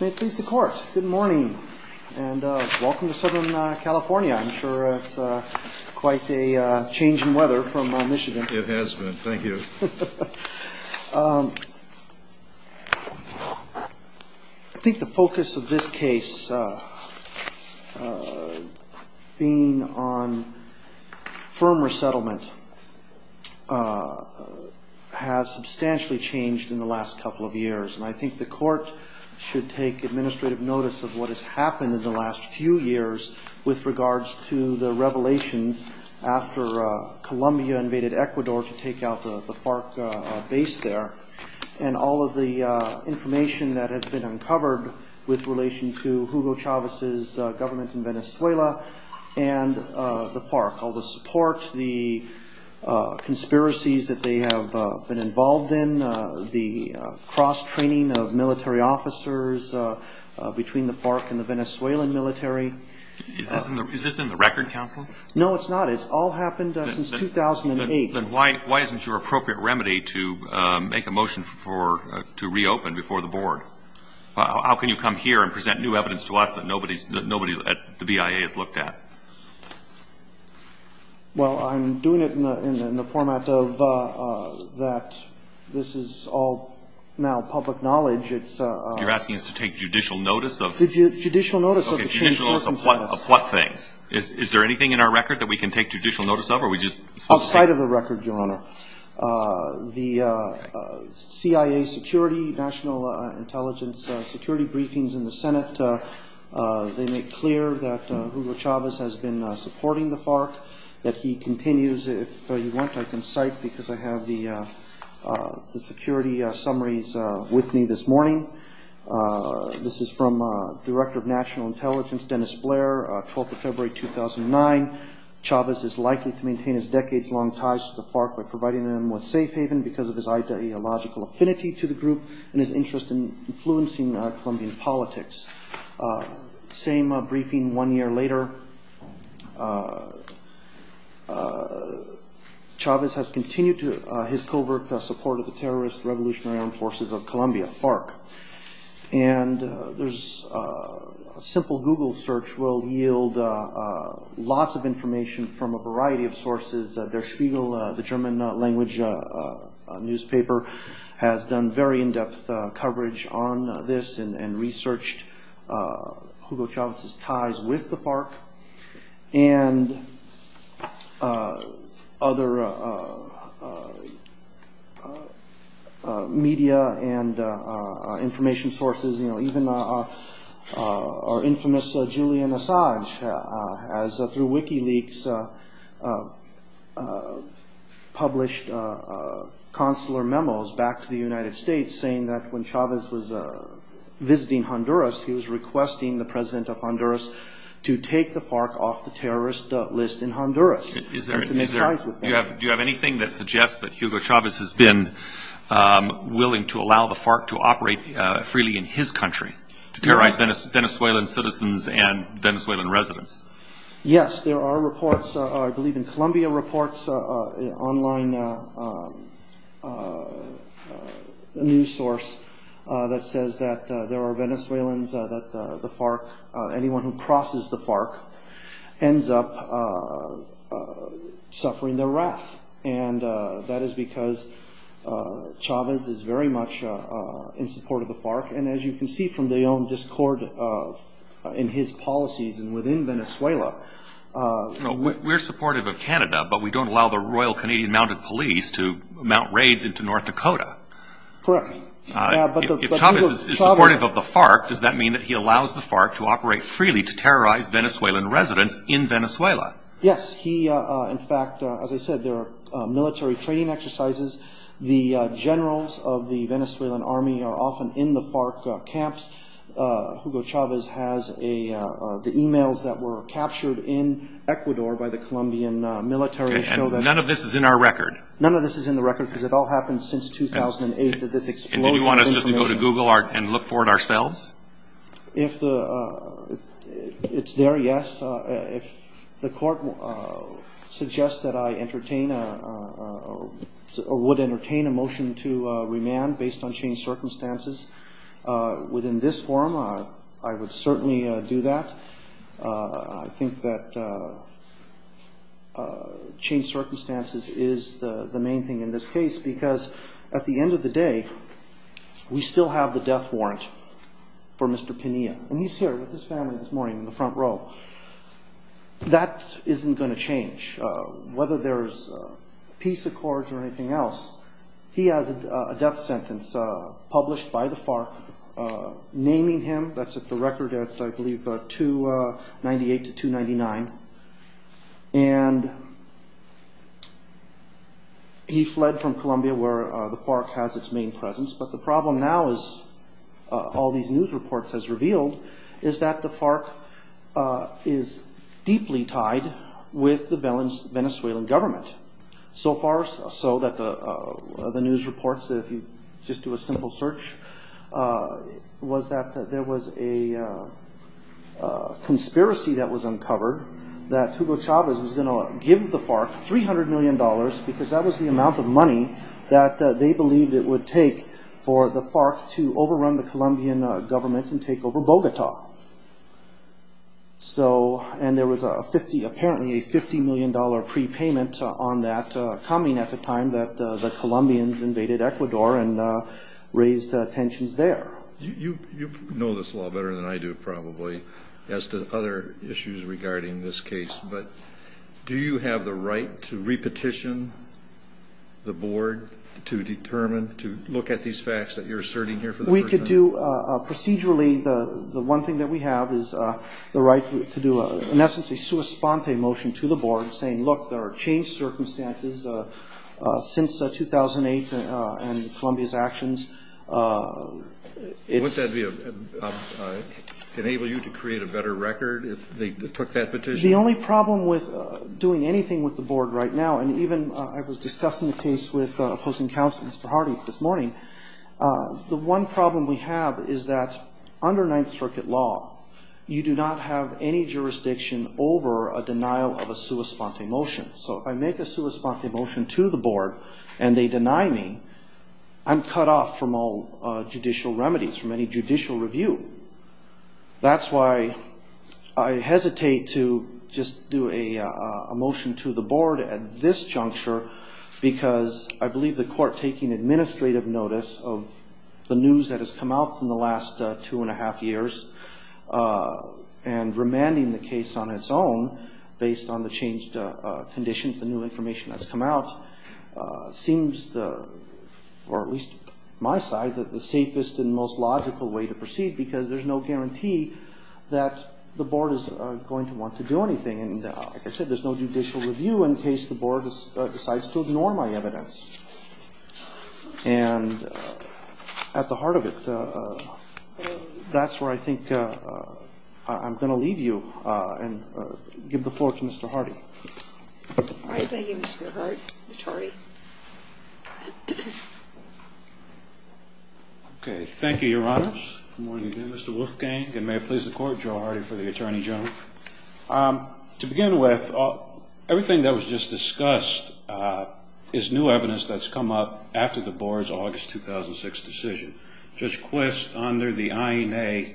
May it please the Court, good morning and welcome to Southern California. I'm sure it's quite a change in weather from Michigan. It has been, thank you. I think the focus of this case being on firm resettlement has substantially changed in the last couple of years. And I think the Court should take administrative notice of what has happened in the last few years with regards to the revelations after Colombia invaded Ecuador to take out the FARC base there. And all of the information that has been uncovered with relation to Hugo Chavez's government in Venezuela and the FARC. All the support, the conspiracies that they have been involved in, the cross-training of military officers between the FARC and the Venezuelan military. Is this in the record, counsel? No, it's not. It's all happened since 2008. Then why isn't your appropriate remedy to make a motion to reopen before the Board? How can you come here and present new evidence to us that nobody at the BIA has looked at? Well, I'm doing it in the format of that this is all now public knowledge. You're asking us to take judicial notice of? Judicial notice of the changed circumstances. Judicial notice of what things? Is there anything in our record that we can take judicial notice of? Outside of the record, Your Honor. The CIA security, national intelligence security briefings in the Senate, they make clear that Hugo Chavez has been supporting the FARC, that he continues. If you want, I can cite because I have the security summaries with me this morning. This is from Director of National Intelligence, Dennis Blair, 12th of February, 2009. Chavez is likely to maintain his decades-long ties to the FARC by providing them with safe haven because of his ideological affinity to the group and his interest in influencing Colombian politics. Same briefing one year later, Chavez has continued his covert support of the terrorist Revolutionary Armed Forces of Colombia, FARC. And there's a simple Google search will yield lots of information from a variety of sources. Der Spiegel, the German language newspaper, has done very in-depth coverage on this and researched Hugo Chavez's ties with the FARC. And other media and information sources, even our infamous Julian Assange has, through WikiLeaks, published consular memos back to the United States saying that when Chavez was visiting Honduras, he was requesting the president of Honduras to take the FARC off the terrorist list in Honduras. Do you have anything that suggests that Hugo Chavez has been willing to allow the FARC to operate freely in his country to terrorize Venezuelan citizens and Venezuelan residents? Yes, there are reports, I believe in Columbia reports, an online news source that says that there are Venezuelans that the FARC, anyone who crosses the FARC, ends up suffering their wrath. And that is because Chavez is very much in support of the FARC. And as you can see from the own discord in his policies and within Venezuela... We're supportive of Canada, but we don't allow the Royal Canadian Mounted Police to mount raids into North Dakota. Correct. If Chavez is supportive of the FARC, does that mean that he allows the FARC to operate freely to terrorize Venezuelan residents in Venezuela? Yes, he, in fact, as I said, there are military training exercises. The generals of the Venezuelan army are often in the FARC camps. Hugo Chavez has the emails that were captured in Ecuador by the Colombian military show that... And none of this is in our record? None of this is in the record because it all happened since 2008 that this explosion... And do you want us just to go to Google and look for it ourselves? If it's there, yes. If the court suggests that I entertain or would entertain a motion to remand based on changed circumstances... Within this forum, I would certainly do that. I think that changed circumstances is the main thing in this case... Because at the end of the day, we still have the death warrant for Mr. Pena. And he's here with his family this morning in the front row. That isn't going to change. Whether there's peace accords or anything else, he has a death sentence published by the FARC... Naming him, that's at the record, I believe 298 to 299. And he fled from Colombia where the FARC has its main presence. But the problem now, as all these news reports have revealed... Is that the FARC is deeply tied with the Venezuelan government. So far so that the news reports, if you just do a simple search... Was that there was a conspiracy that was uncovered... That Hugo Chavez was going to give the FARC $300 million... Because that was the amount of money that they believed it would take... For the FARC to overrun the Colombian government and take over Bogota. And there was apparently a $50 million prepayment on that coming... At the time that the Colombians invaded Ecuador and raised tensions there. You know this law better than I do, probably, as to other issues regarding this case. But do you have the right to re-petition the board to determine... To look at these facts that you're asserting here for the first time? We could do procedurally. The one thing that we have is the right to do, in essence, a sua sponte motion to the board... Saying, look, there are changed circumstances since 2008 and Colombia's actions. Would that enable you to create a better record if they took that petition? The only problem with doing anything with the board right now... And even I was discussing the case with opposing counsel Mr. Hardy this morning... The one problem we have is that under Ninth Circuit law... You do not have any jurisdiction over a denial of a sua sponte motion. So if I make a sua sponte motion to the board and they deny me... I'm cut off from all judicial remedies, from any judicial review. That's why I hesitate to just do a motion to the board at this juncture... Because I believe the court taking administrative notice of the news that has come out... From the last two and a half years and remanding the case on its own... Based on the changed conditions, the new information that's come out... Seems, at least on my side, the safest and most logical way to proceed... Because there's no guarantee that the board is going to want to do anything. And like I said, there's no judicial review in case the board decides to ignore my evidence. And at the heart of it... That's where I think I'm going to leave you and give the floor to Mr. Hardy. Thank you, Mr. Hart. Mr. Hardy. Thank you, Your Honors. Good morning again, Mr. Wolfgang. And may it please the Court, Joe Hardy for the Attorney General. To begin with, everything that was just discussed is new evidence that's come up... After the board's August 2006 decision. Judge Quist, under the INA,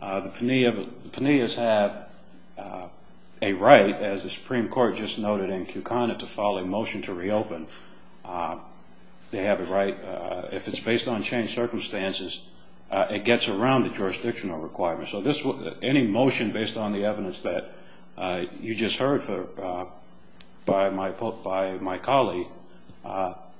the Pineas have a right, as the Supreme Court just noted in Kewkana... To file a motion to reopen. If it's based on changed circumstances, it gets around the jurisdictional requirements. Any motion based on the evidence that you just heard by my colleague...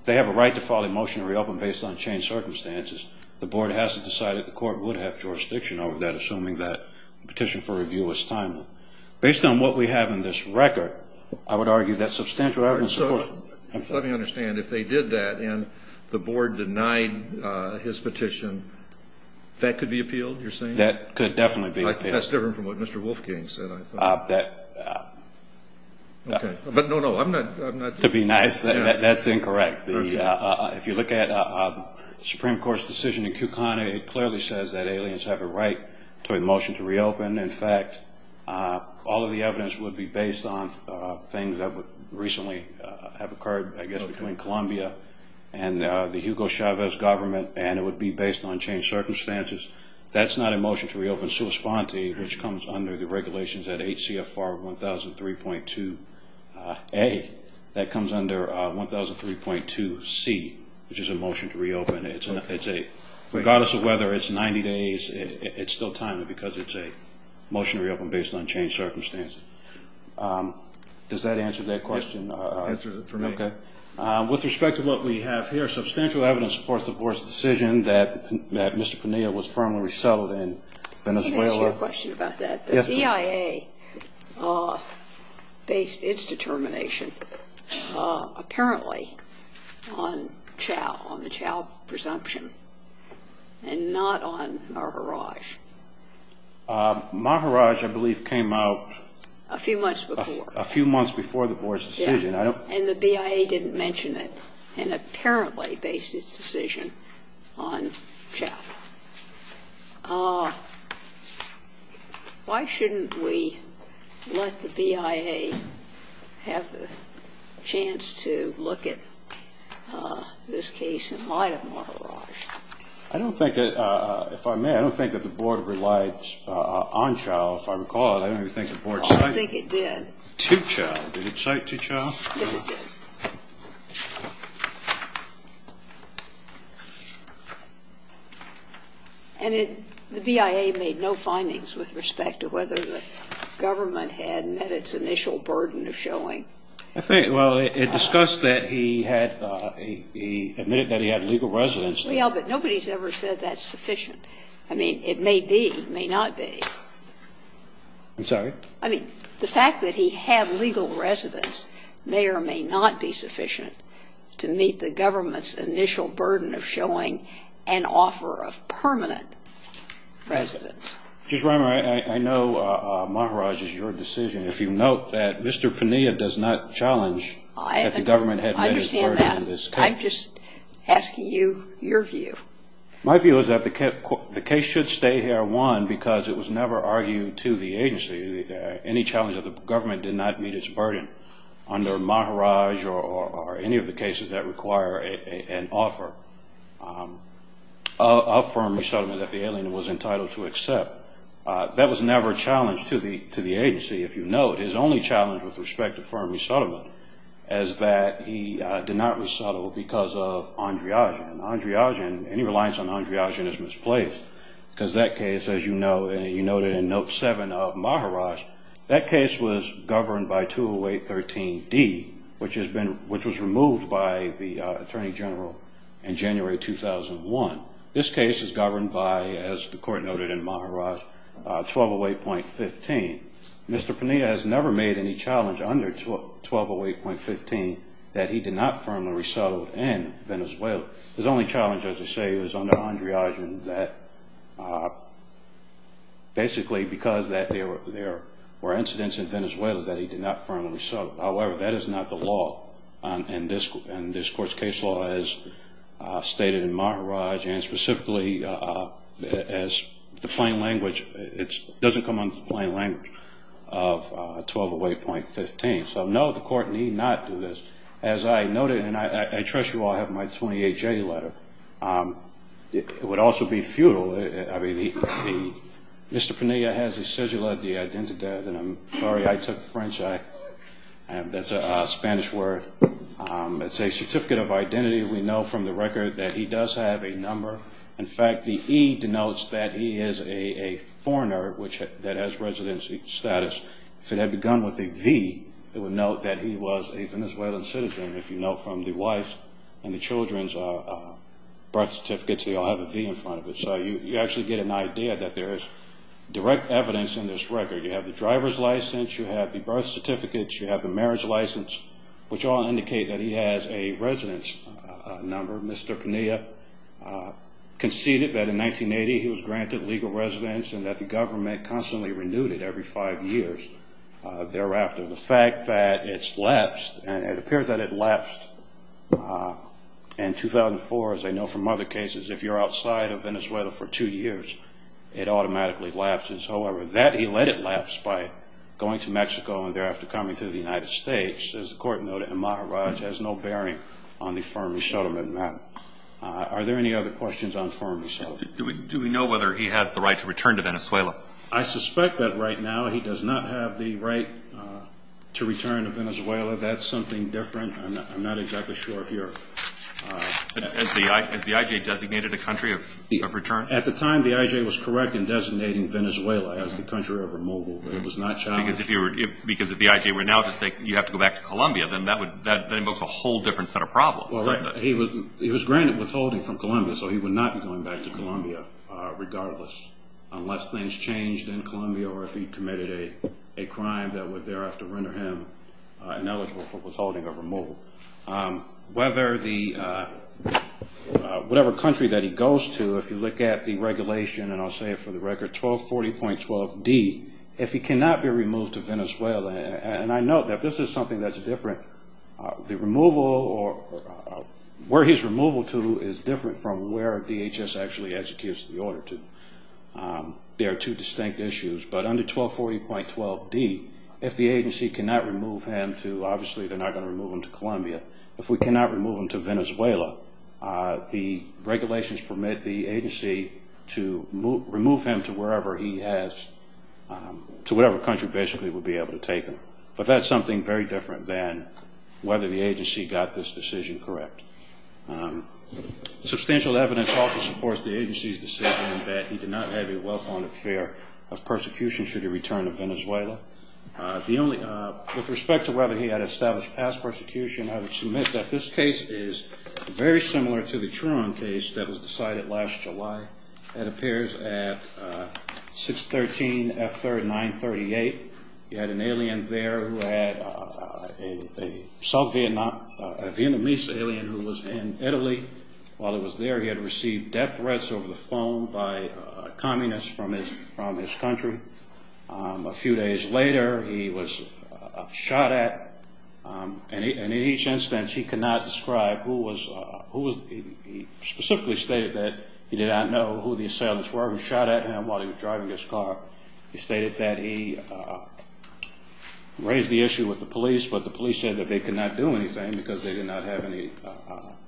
They have a right to file a motion to reopen based on changed circumstances. The board hasn't decided the court would have jurisdiction over that, assuming that the petition for review was timely. Based on what we have in this record, I would argue that substantial evidence supports... Let me understand. If they did that and the board denied his petition, that could be appealed, you're saying? That could definitely be appealed. That's different from what Mr. Wolfgang said, I thought. But no, no, I'm not... To be nice, that's incorrect. If you look at the Supreme Court's decision in Kewkana, it clearly says that aliens have a right to a motion to reopen. In fact, all of the evidence would be based on things that would recently have occurred, I guess, between Columbia and the Hugo Chavez government. And it would be based on changed circumstances. That's not a motion to reopen sua sponte, which comes under the regulations at HCFR 1003.2A. That comes under 1003.2C, which is a motion to reopen. Regardless of whether it's 90 days, it's still timely because it's a motion to reopen based on changed circumstances. Does that answer that question? Answered it for me. Okay. With respect to what we have here, substantial evidence supports the board's decision that Mr. Penea was firmly resettled in Venezuela. Can I ask you a question about that? Yes, ma'am. The CIA based its determination apparently on Chao, on the Chao presumption, and not on Maharaj. Maharaj, I believe, came out... A few months before. A few months before the board's decision. Yes. And the BIA didn't mention it, and apparently based its decision on Chao. Why shouldn't we let the BIA have the chance to look at this case in light of Maharaj? I don't think that, if I may, I don't think that the board relied on Chao, if I recall it. I don't even think the board... I think it did. And the BIA did not cite Tichao. Tichao, did it cite Tichao? Yes, it did. And it – the BIA made no findings with respect to whether the government had met its initial burden of showing. I think, well, it discussed that he had a – he admitted that he had legal residency. Well, but nobody has ever said that's sufficient. I mean, it may be, may not be. I'm sorry? I mean, the fact that he had legal residence may or may not be sufficient to meet the government's initial burden of showing an offer of permanent residence. Judge Reimer, I know Maharaj is your decision. If you note that Mr. Pania does not challenge that the government had met its burden in this case. I understand that. I'm just asking you your view. My view is that the case should stay here, one, because it was never argued to the agency. Any challenge of the government did not meet its burden under Maharaj or any of the cases that require an offer of firm resettlement if the alien was entitled to accept. That was never a challenge to the agency. If you note, his only challenge with respect to firm resettlement is that he did not resettle because of Andreagin, and Andreagin, any reliance on Andreagin is misplaced because that case, as you noted in Note 7 of Maharaj, that case was governed by 208.13d, which was removed by the Attorney General in January 2001. This case is governed by, as the court noted in Maharaj, 1208.15. Mr. Pania has never made any challenge under 1208.15 that he did not firmly resettle in Venezuela. His only challenge, as I say, was under Andreagin that basically because there were incidents in Venezuela that he did not firmly resettle. However, that is not the law in this court's case law as stated in Maharaj, and specifically as the plain language, it doesn't come under the plain language of 1208.15. So, no, the court need not do this. As I noted, and I trust you all have my 28J letter, it would also be futile. I mean, Mr. Pania has a cedula de identidad, and I'm sorry I took French. That's a Spanish word. It's a certificate of identity. We know from the record that he does have a number. In fact, the E denotes that he is a foreigner that has residency status. If it had begun with a V, it would note that he was a Venezuelan citizen. If you know from the wife and the children's birth certificates, they all have a V in front of it. So you actually get an idea that there is direct evidence in this record. You have the driver's license, you have the birth certificates, you have the marriage license, which all indicate that he has a residence number. Mr. Pania conceded that in 1980 he was granted legal residence and that the government constantly renewed it every five years thereafter. The fact that it's lapsed, and it appears that it lapsed in 2004. As I know from other cases, if you're outside of Venezuela for two years, it automatically lapses. However, that he let it lapse by going to Mexico and thereafter coming to the United States, as the court noted in Maharaj, has no bearing on the firm resettlement matter. Are there any other questions on firm resettlement? Do we know whether he has the right to return to Venezuela? I suspect that right now he does not have the right to return to Venezuela. That's something different. I'm not exactly sure if you're... Has the IJ designated a country of return? At the time, the IJ was correct in designating Venezuela as the country of removal. It was not challenged. Because if the IJ were now to say you have to go back to Colombia, then that invokes a whole different set of problems, doesn't it? He was granted withholding from Colombia, so he would not be going back to Colombia regardless, unless things changed in Colombia or if he committed a crime Whether the... Whatever country that he goes to, if you look at the regulation, and I'll say it for the record, 1240.12d, if he cannot be removed to Venezuela, and I note that this is something that's different, the removal or where he's removal to is different from where DHS actually executes the order to. There are two distinct issues. But under 1240.12d, if the agency cannot remove him to, obviously, they're not going to remove him to Colombia. If we cannot remove him to Venezuela, the regulations permit the agency to remove him to wherever he has... To whatever country basically we'll be able to take him. But that's something very different than whether the agency got this decision correct. Substantial evidence also supports the agency's decision that he did not have a well-founded fear of persecution should he return to Venezuela. With respect to whether he had established past persecution, I would submit that this case is very similar to the Truon case that was decided last July. That appears at 613F3938. He had an alien there who had a Vietnamese alien who was in Italy. While he was there, he had received death threats over the phone by communists from his country. A few days later, he was shot at. And in each instance, he cannot describe who was... He specifically stated that he did not know who the assailants were. He shot at him while he was driving his car. He stated that he raised the issue with the police, but the police said that they could not do anything because they did not have any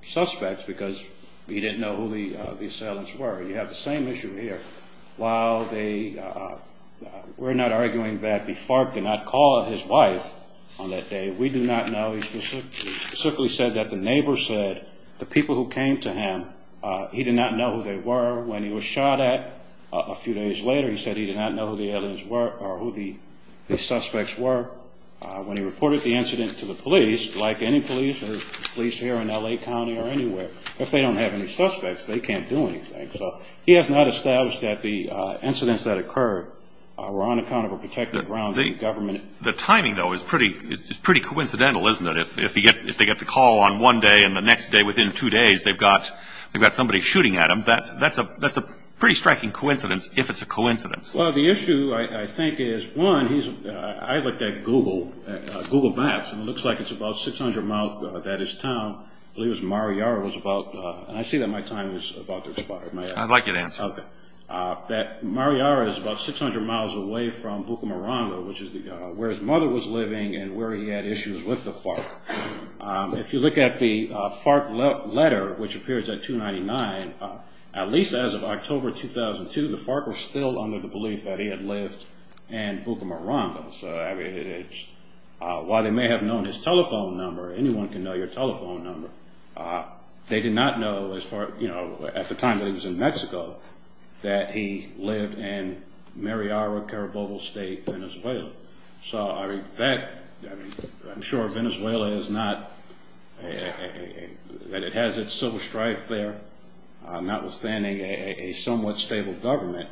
suspects because he didn't know who the assailants were. You have the same issue here. While they... We're not arguing that the FARC did not call his wife on that day. We do not know. He specifically said that the neighbor said the people who came to him, he did not know who they were. When he was shot at a few days later, he said he did not know who the aliens were or who the suspects were. When he reported the incident to the police, like any police or police here in L.A. County or anywhere, if they don't have any suspects, they can't do anything. So he has not established that the incidents that occurred were on account of a protected ground. The timing, though, is pretty coincidental, isn't it? If they get the call on one day and the next day, within two days, they've got somebody shooting at them. That's a pretty striking coincidence, if it's a coincidence. Well, the issue, I think, is, one, he's... I looked at Google Maps, and it looks like it's about 600 miles, that is, town. I believe it was Mariara was about... I see that my time is about to expire. I'd like you to answer. Okay. Mariara is about 600 miles away from Bucamaranda, which is where his mother was living and where he had issues with the FARC. If you look at the FARC letter, which appears at 299, at least as of October 2002, the FARC was still under the belief that he had lived in Bucamaranda. So, I mean, it's... While they may have known his telephone number, anyone can know your telephone number, they did not know, at the time that he was in Mexico, that he lived in Mariara, Carabobo State, Venezuela. So, I mean, that... I'm sure Venezuela is not... that it has its civil strife there, notwithstanding a somewhat stable government.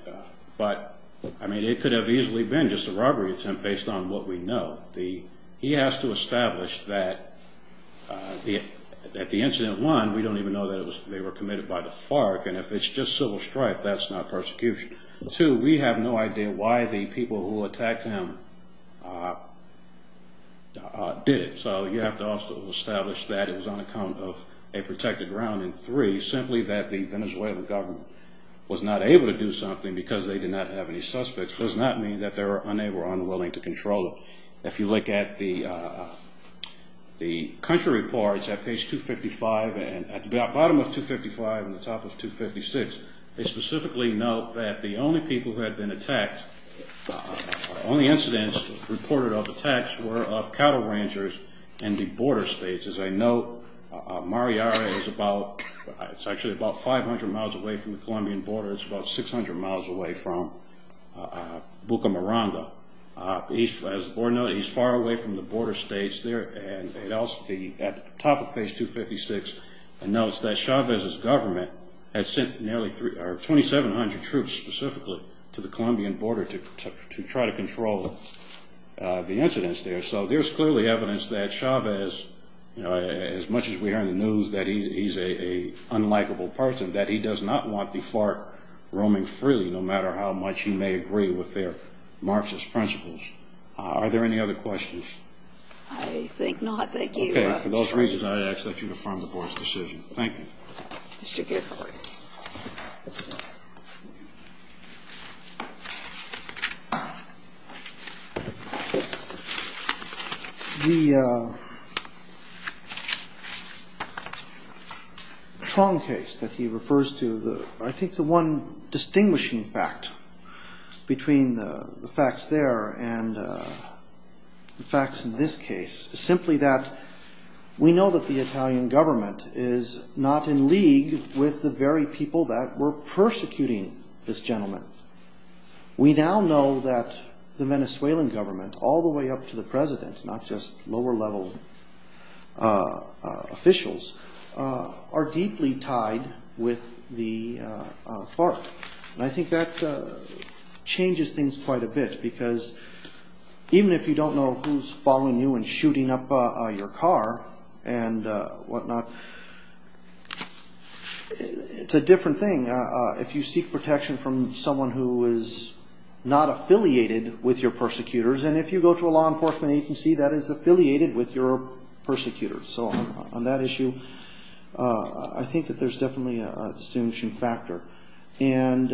But, I mean, it could have easily been just a robbery attempt based on what we know. He has to establish that the incident, one, we don't even know that they were committed by the FARC, and if it's just civil strife, that's not persecution. Two, we have no idea why the people who attacked him did it. So you have to also establish that it was on account of a protected ground. And three, simply that the Venezuelan government was not able to do something because they did not have any suspects does not mean that they were unwilling to control it. If you look at the country reports at page 255, and at the bottom of 255 and the top of 256, they specifically note that the only people who had been attacked, only incidents reported of attacks were of cattle rangers in the border states. As I note, Mariara is about, it's actually about 500 miles away from the Colombian border. It's about 600 miles away from Bucamaranga. As the board noted, he's far away from the border states there. And at the top of page 256, it notes that Chavez's government had sent nearly 2,700 troops specifically to the Colombian border to try to control the incidents there. So there's clearly evidence that Chavez, as much as we hear in the news that he's an unlikable person, that he does not want the FARC roaming freely, no matter how much he may agree with their Marxist principles. Are there any other questions? I think not. Thank you. Okay. For those reasons, I ask that you affirm the board's decision. Thank you. Mr. Gidhar. The Tron case that he refers to, I think the one distinguishing fact between the facts there and the facts in this case, is simply that we know that the Italian government is not in league with the very people that were persecuting this gentleman. We now know that the Venezuelan government, all the way up to the president, not just lower-level officials, are deeply tied with the FARC. And I think that changes things quite a bit, because even if you don't know who's following you and shooting up your car and whatnot, it's a different thing. If you seek protection from someone who is not affiliated with your persecutors, and if you go to a law enforcement agency that is affiliated with your persecutors. So on that issue, I think that there's definitely a distinguishing factor. And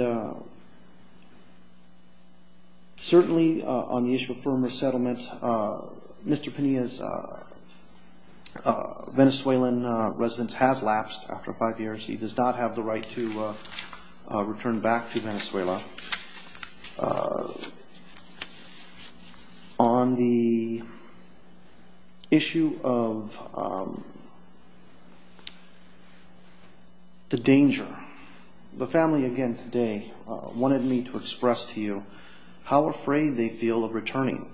certainly on the issue of firm resettlement, Mr. Pena's Venezuelan residence has lapsed after five years. He does not have the right to return back to Venezuela. On the issue of the danger, the family again today wanted me to express to you how afraid they feel of returning.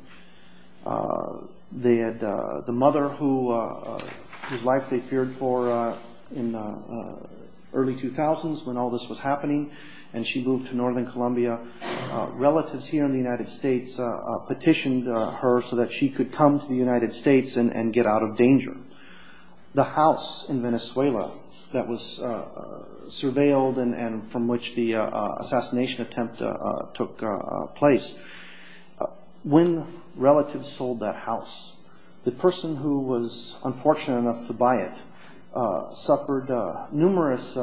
The mother whose life they feared for in the early 2000s when all this was happening, and she moved to northern Colombia, relatives here in the United States petitioned her so that she could come to the United States and get out of danger. The house in Venezuela that was surveilled and from which the assassination attempt took place, when relatives sold that house, the person who was unfortunate enough to buy it suffered numerous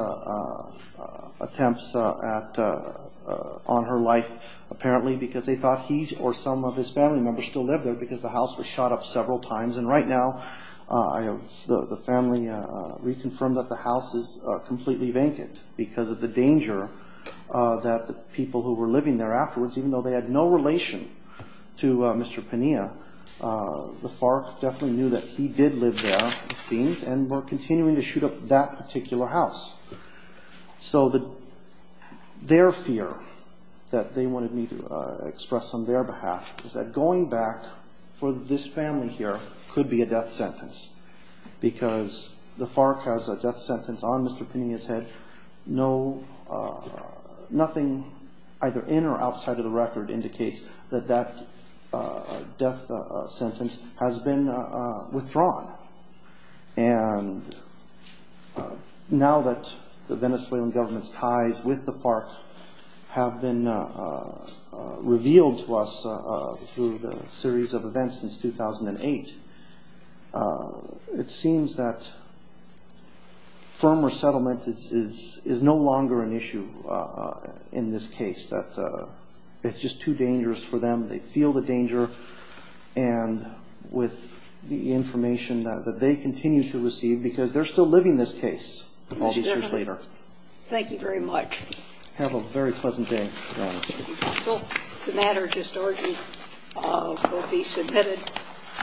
attempts on her life apparently because they thought he or some of his family members still lived there because the house was shot up several times. And right now, the family reconfirmed that the house is completely vacant because of the danger that the people who were living there afterwards, even though they had no relation to Mr. Pena, the FARC definitely knew that he did live there, it seems, and were continuing to shoot up that particular house. So their fear that they wanted me to express on their behalf is that going back for this family here could be a death sentence because the FARC has a death sentence on Mr. Pena's head, and nothing either in or outside of the record indicates that that death sentence has been withdrawn. And now that the Venezuelan government's ties with the FARC have been revealed to us through the series of events since 2008, it seems that firm resettlement is no longer an issue in this case, that it's just too dangerous for them. They feel the danger, and with the information that they continue to receive, because they're still living this case all these years later. Thank you very much. Have a very pleasant day, Your Honor. Thank you, counsel. The matter just ordered will be submitted.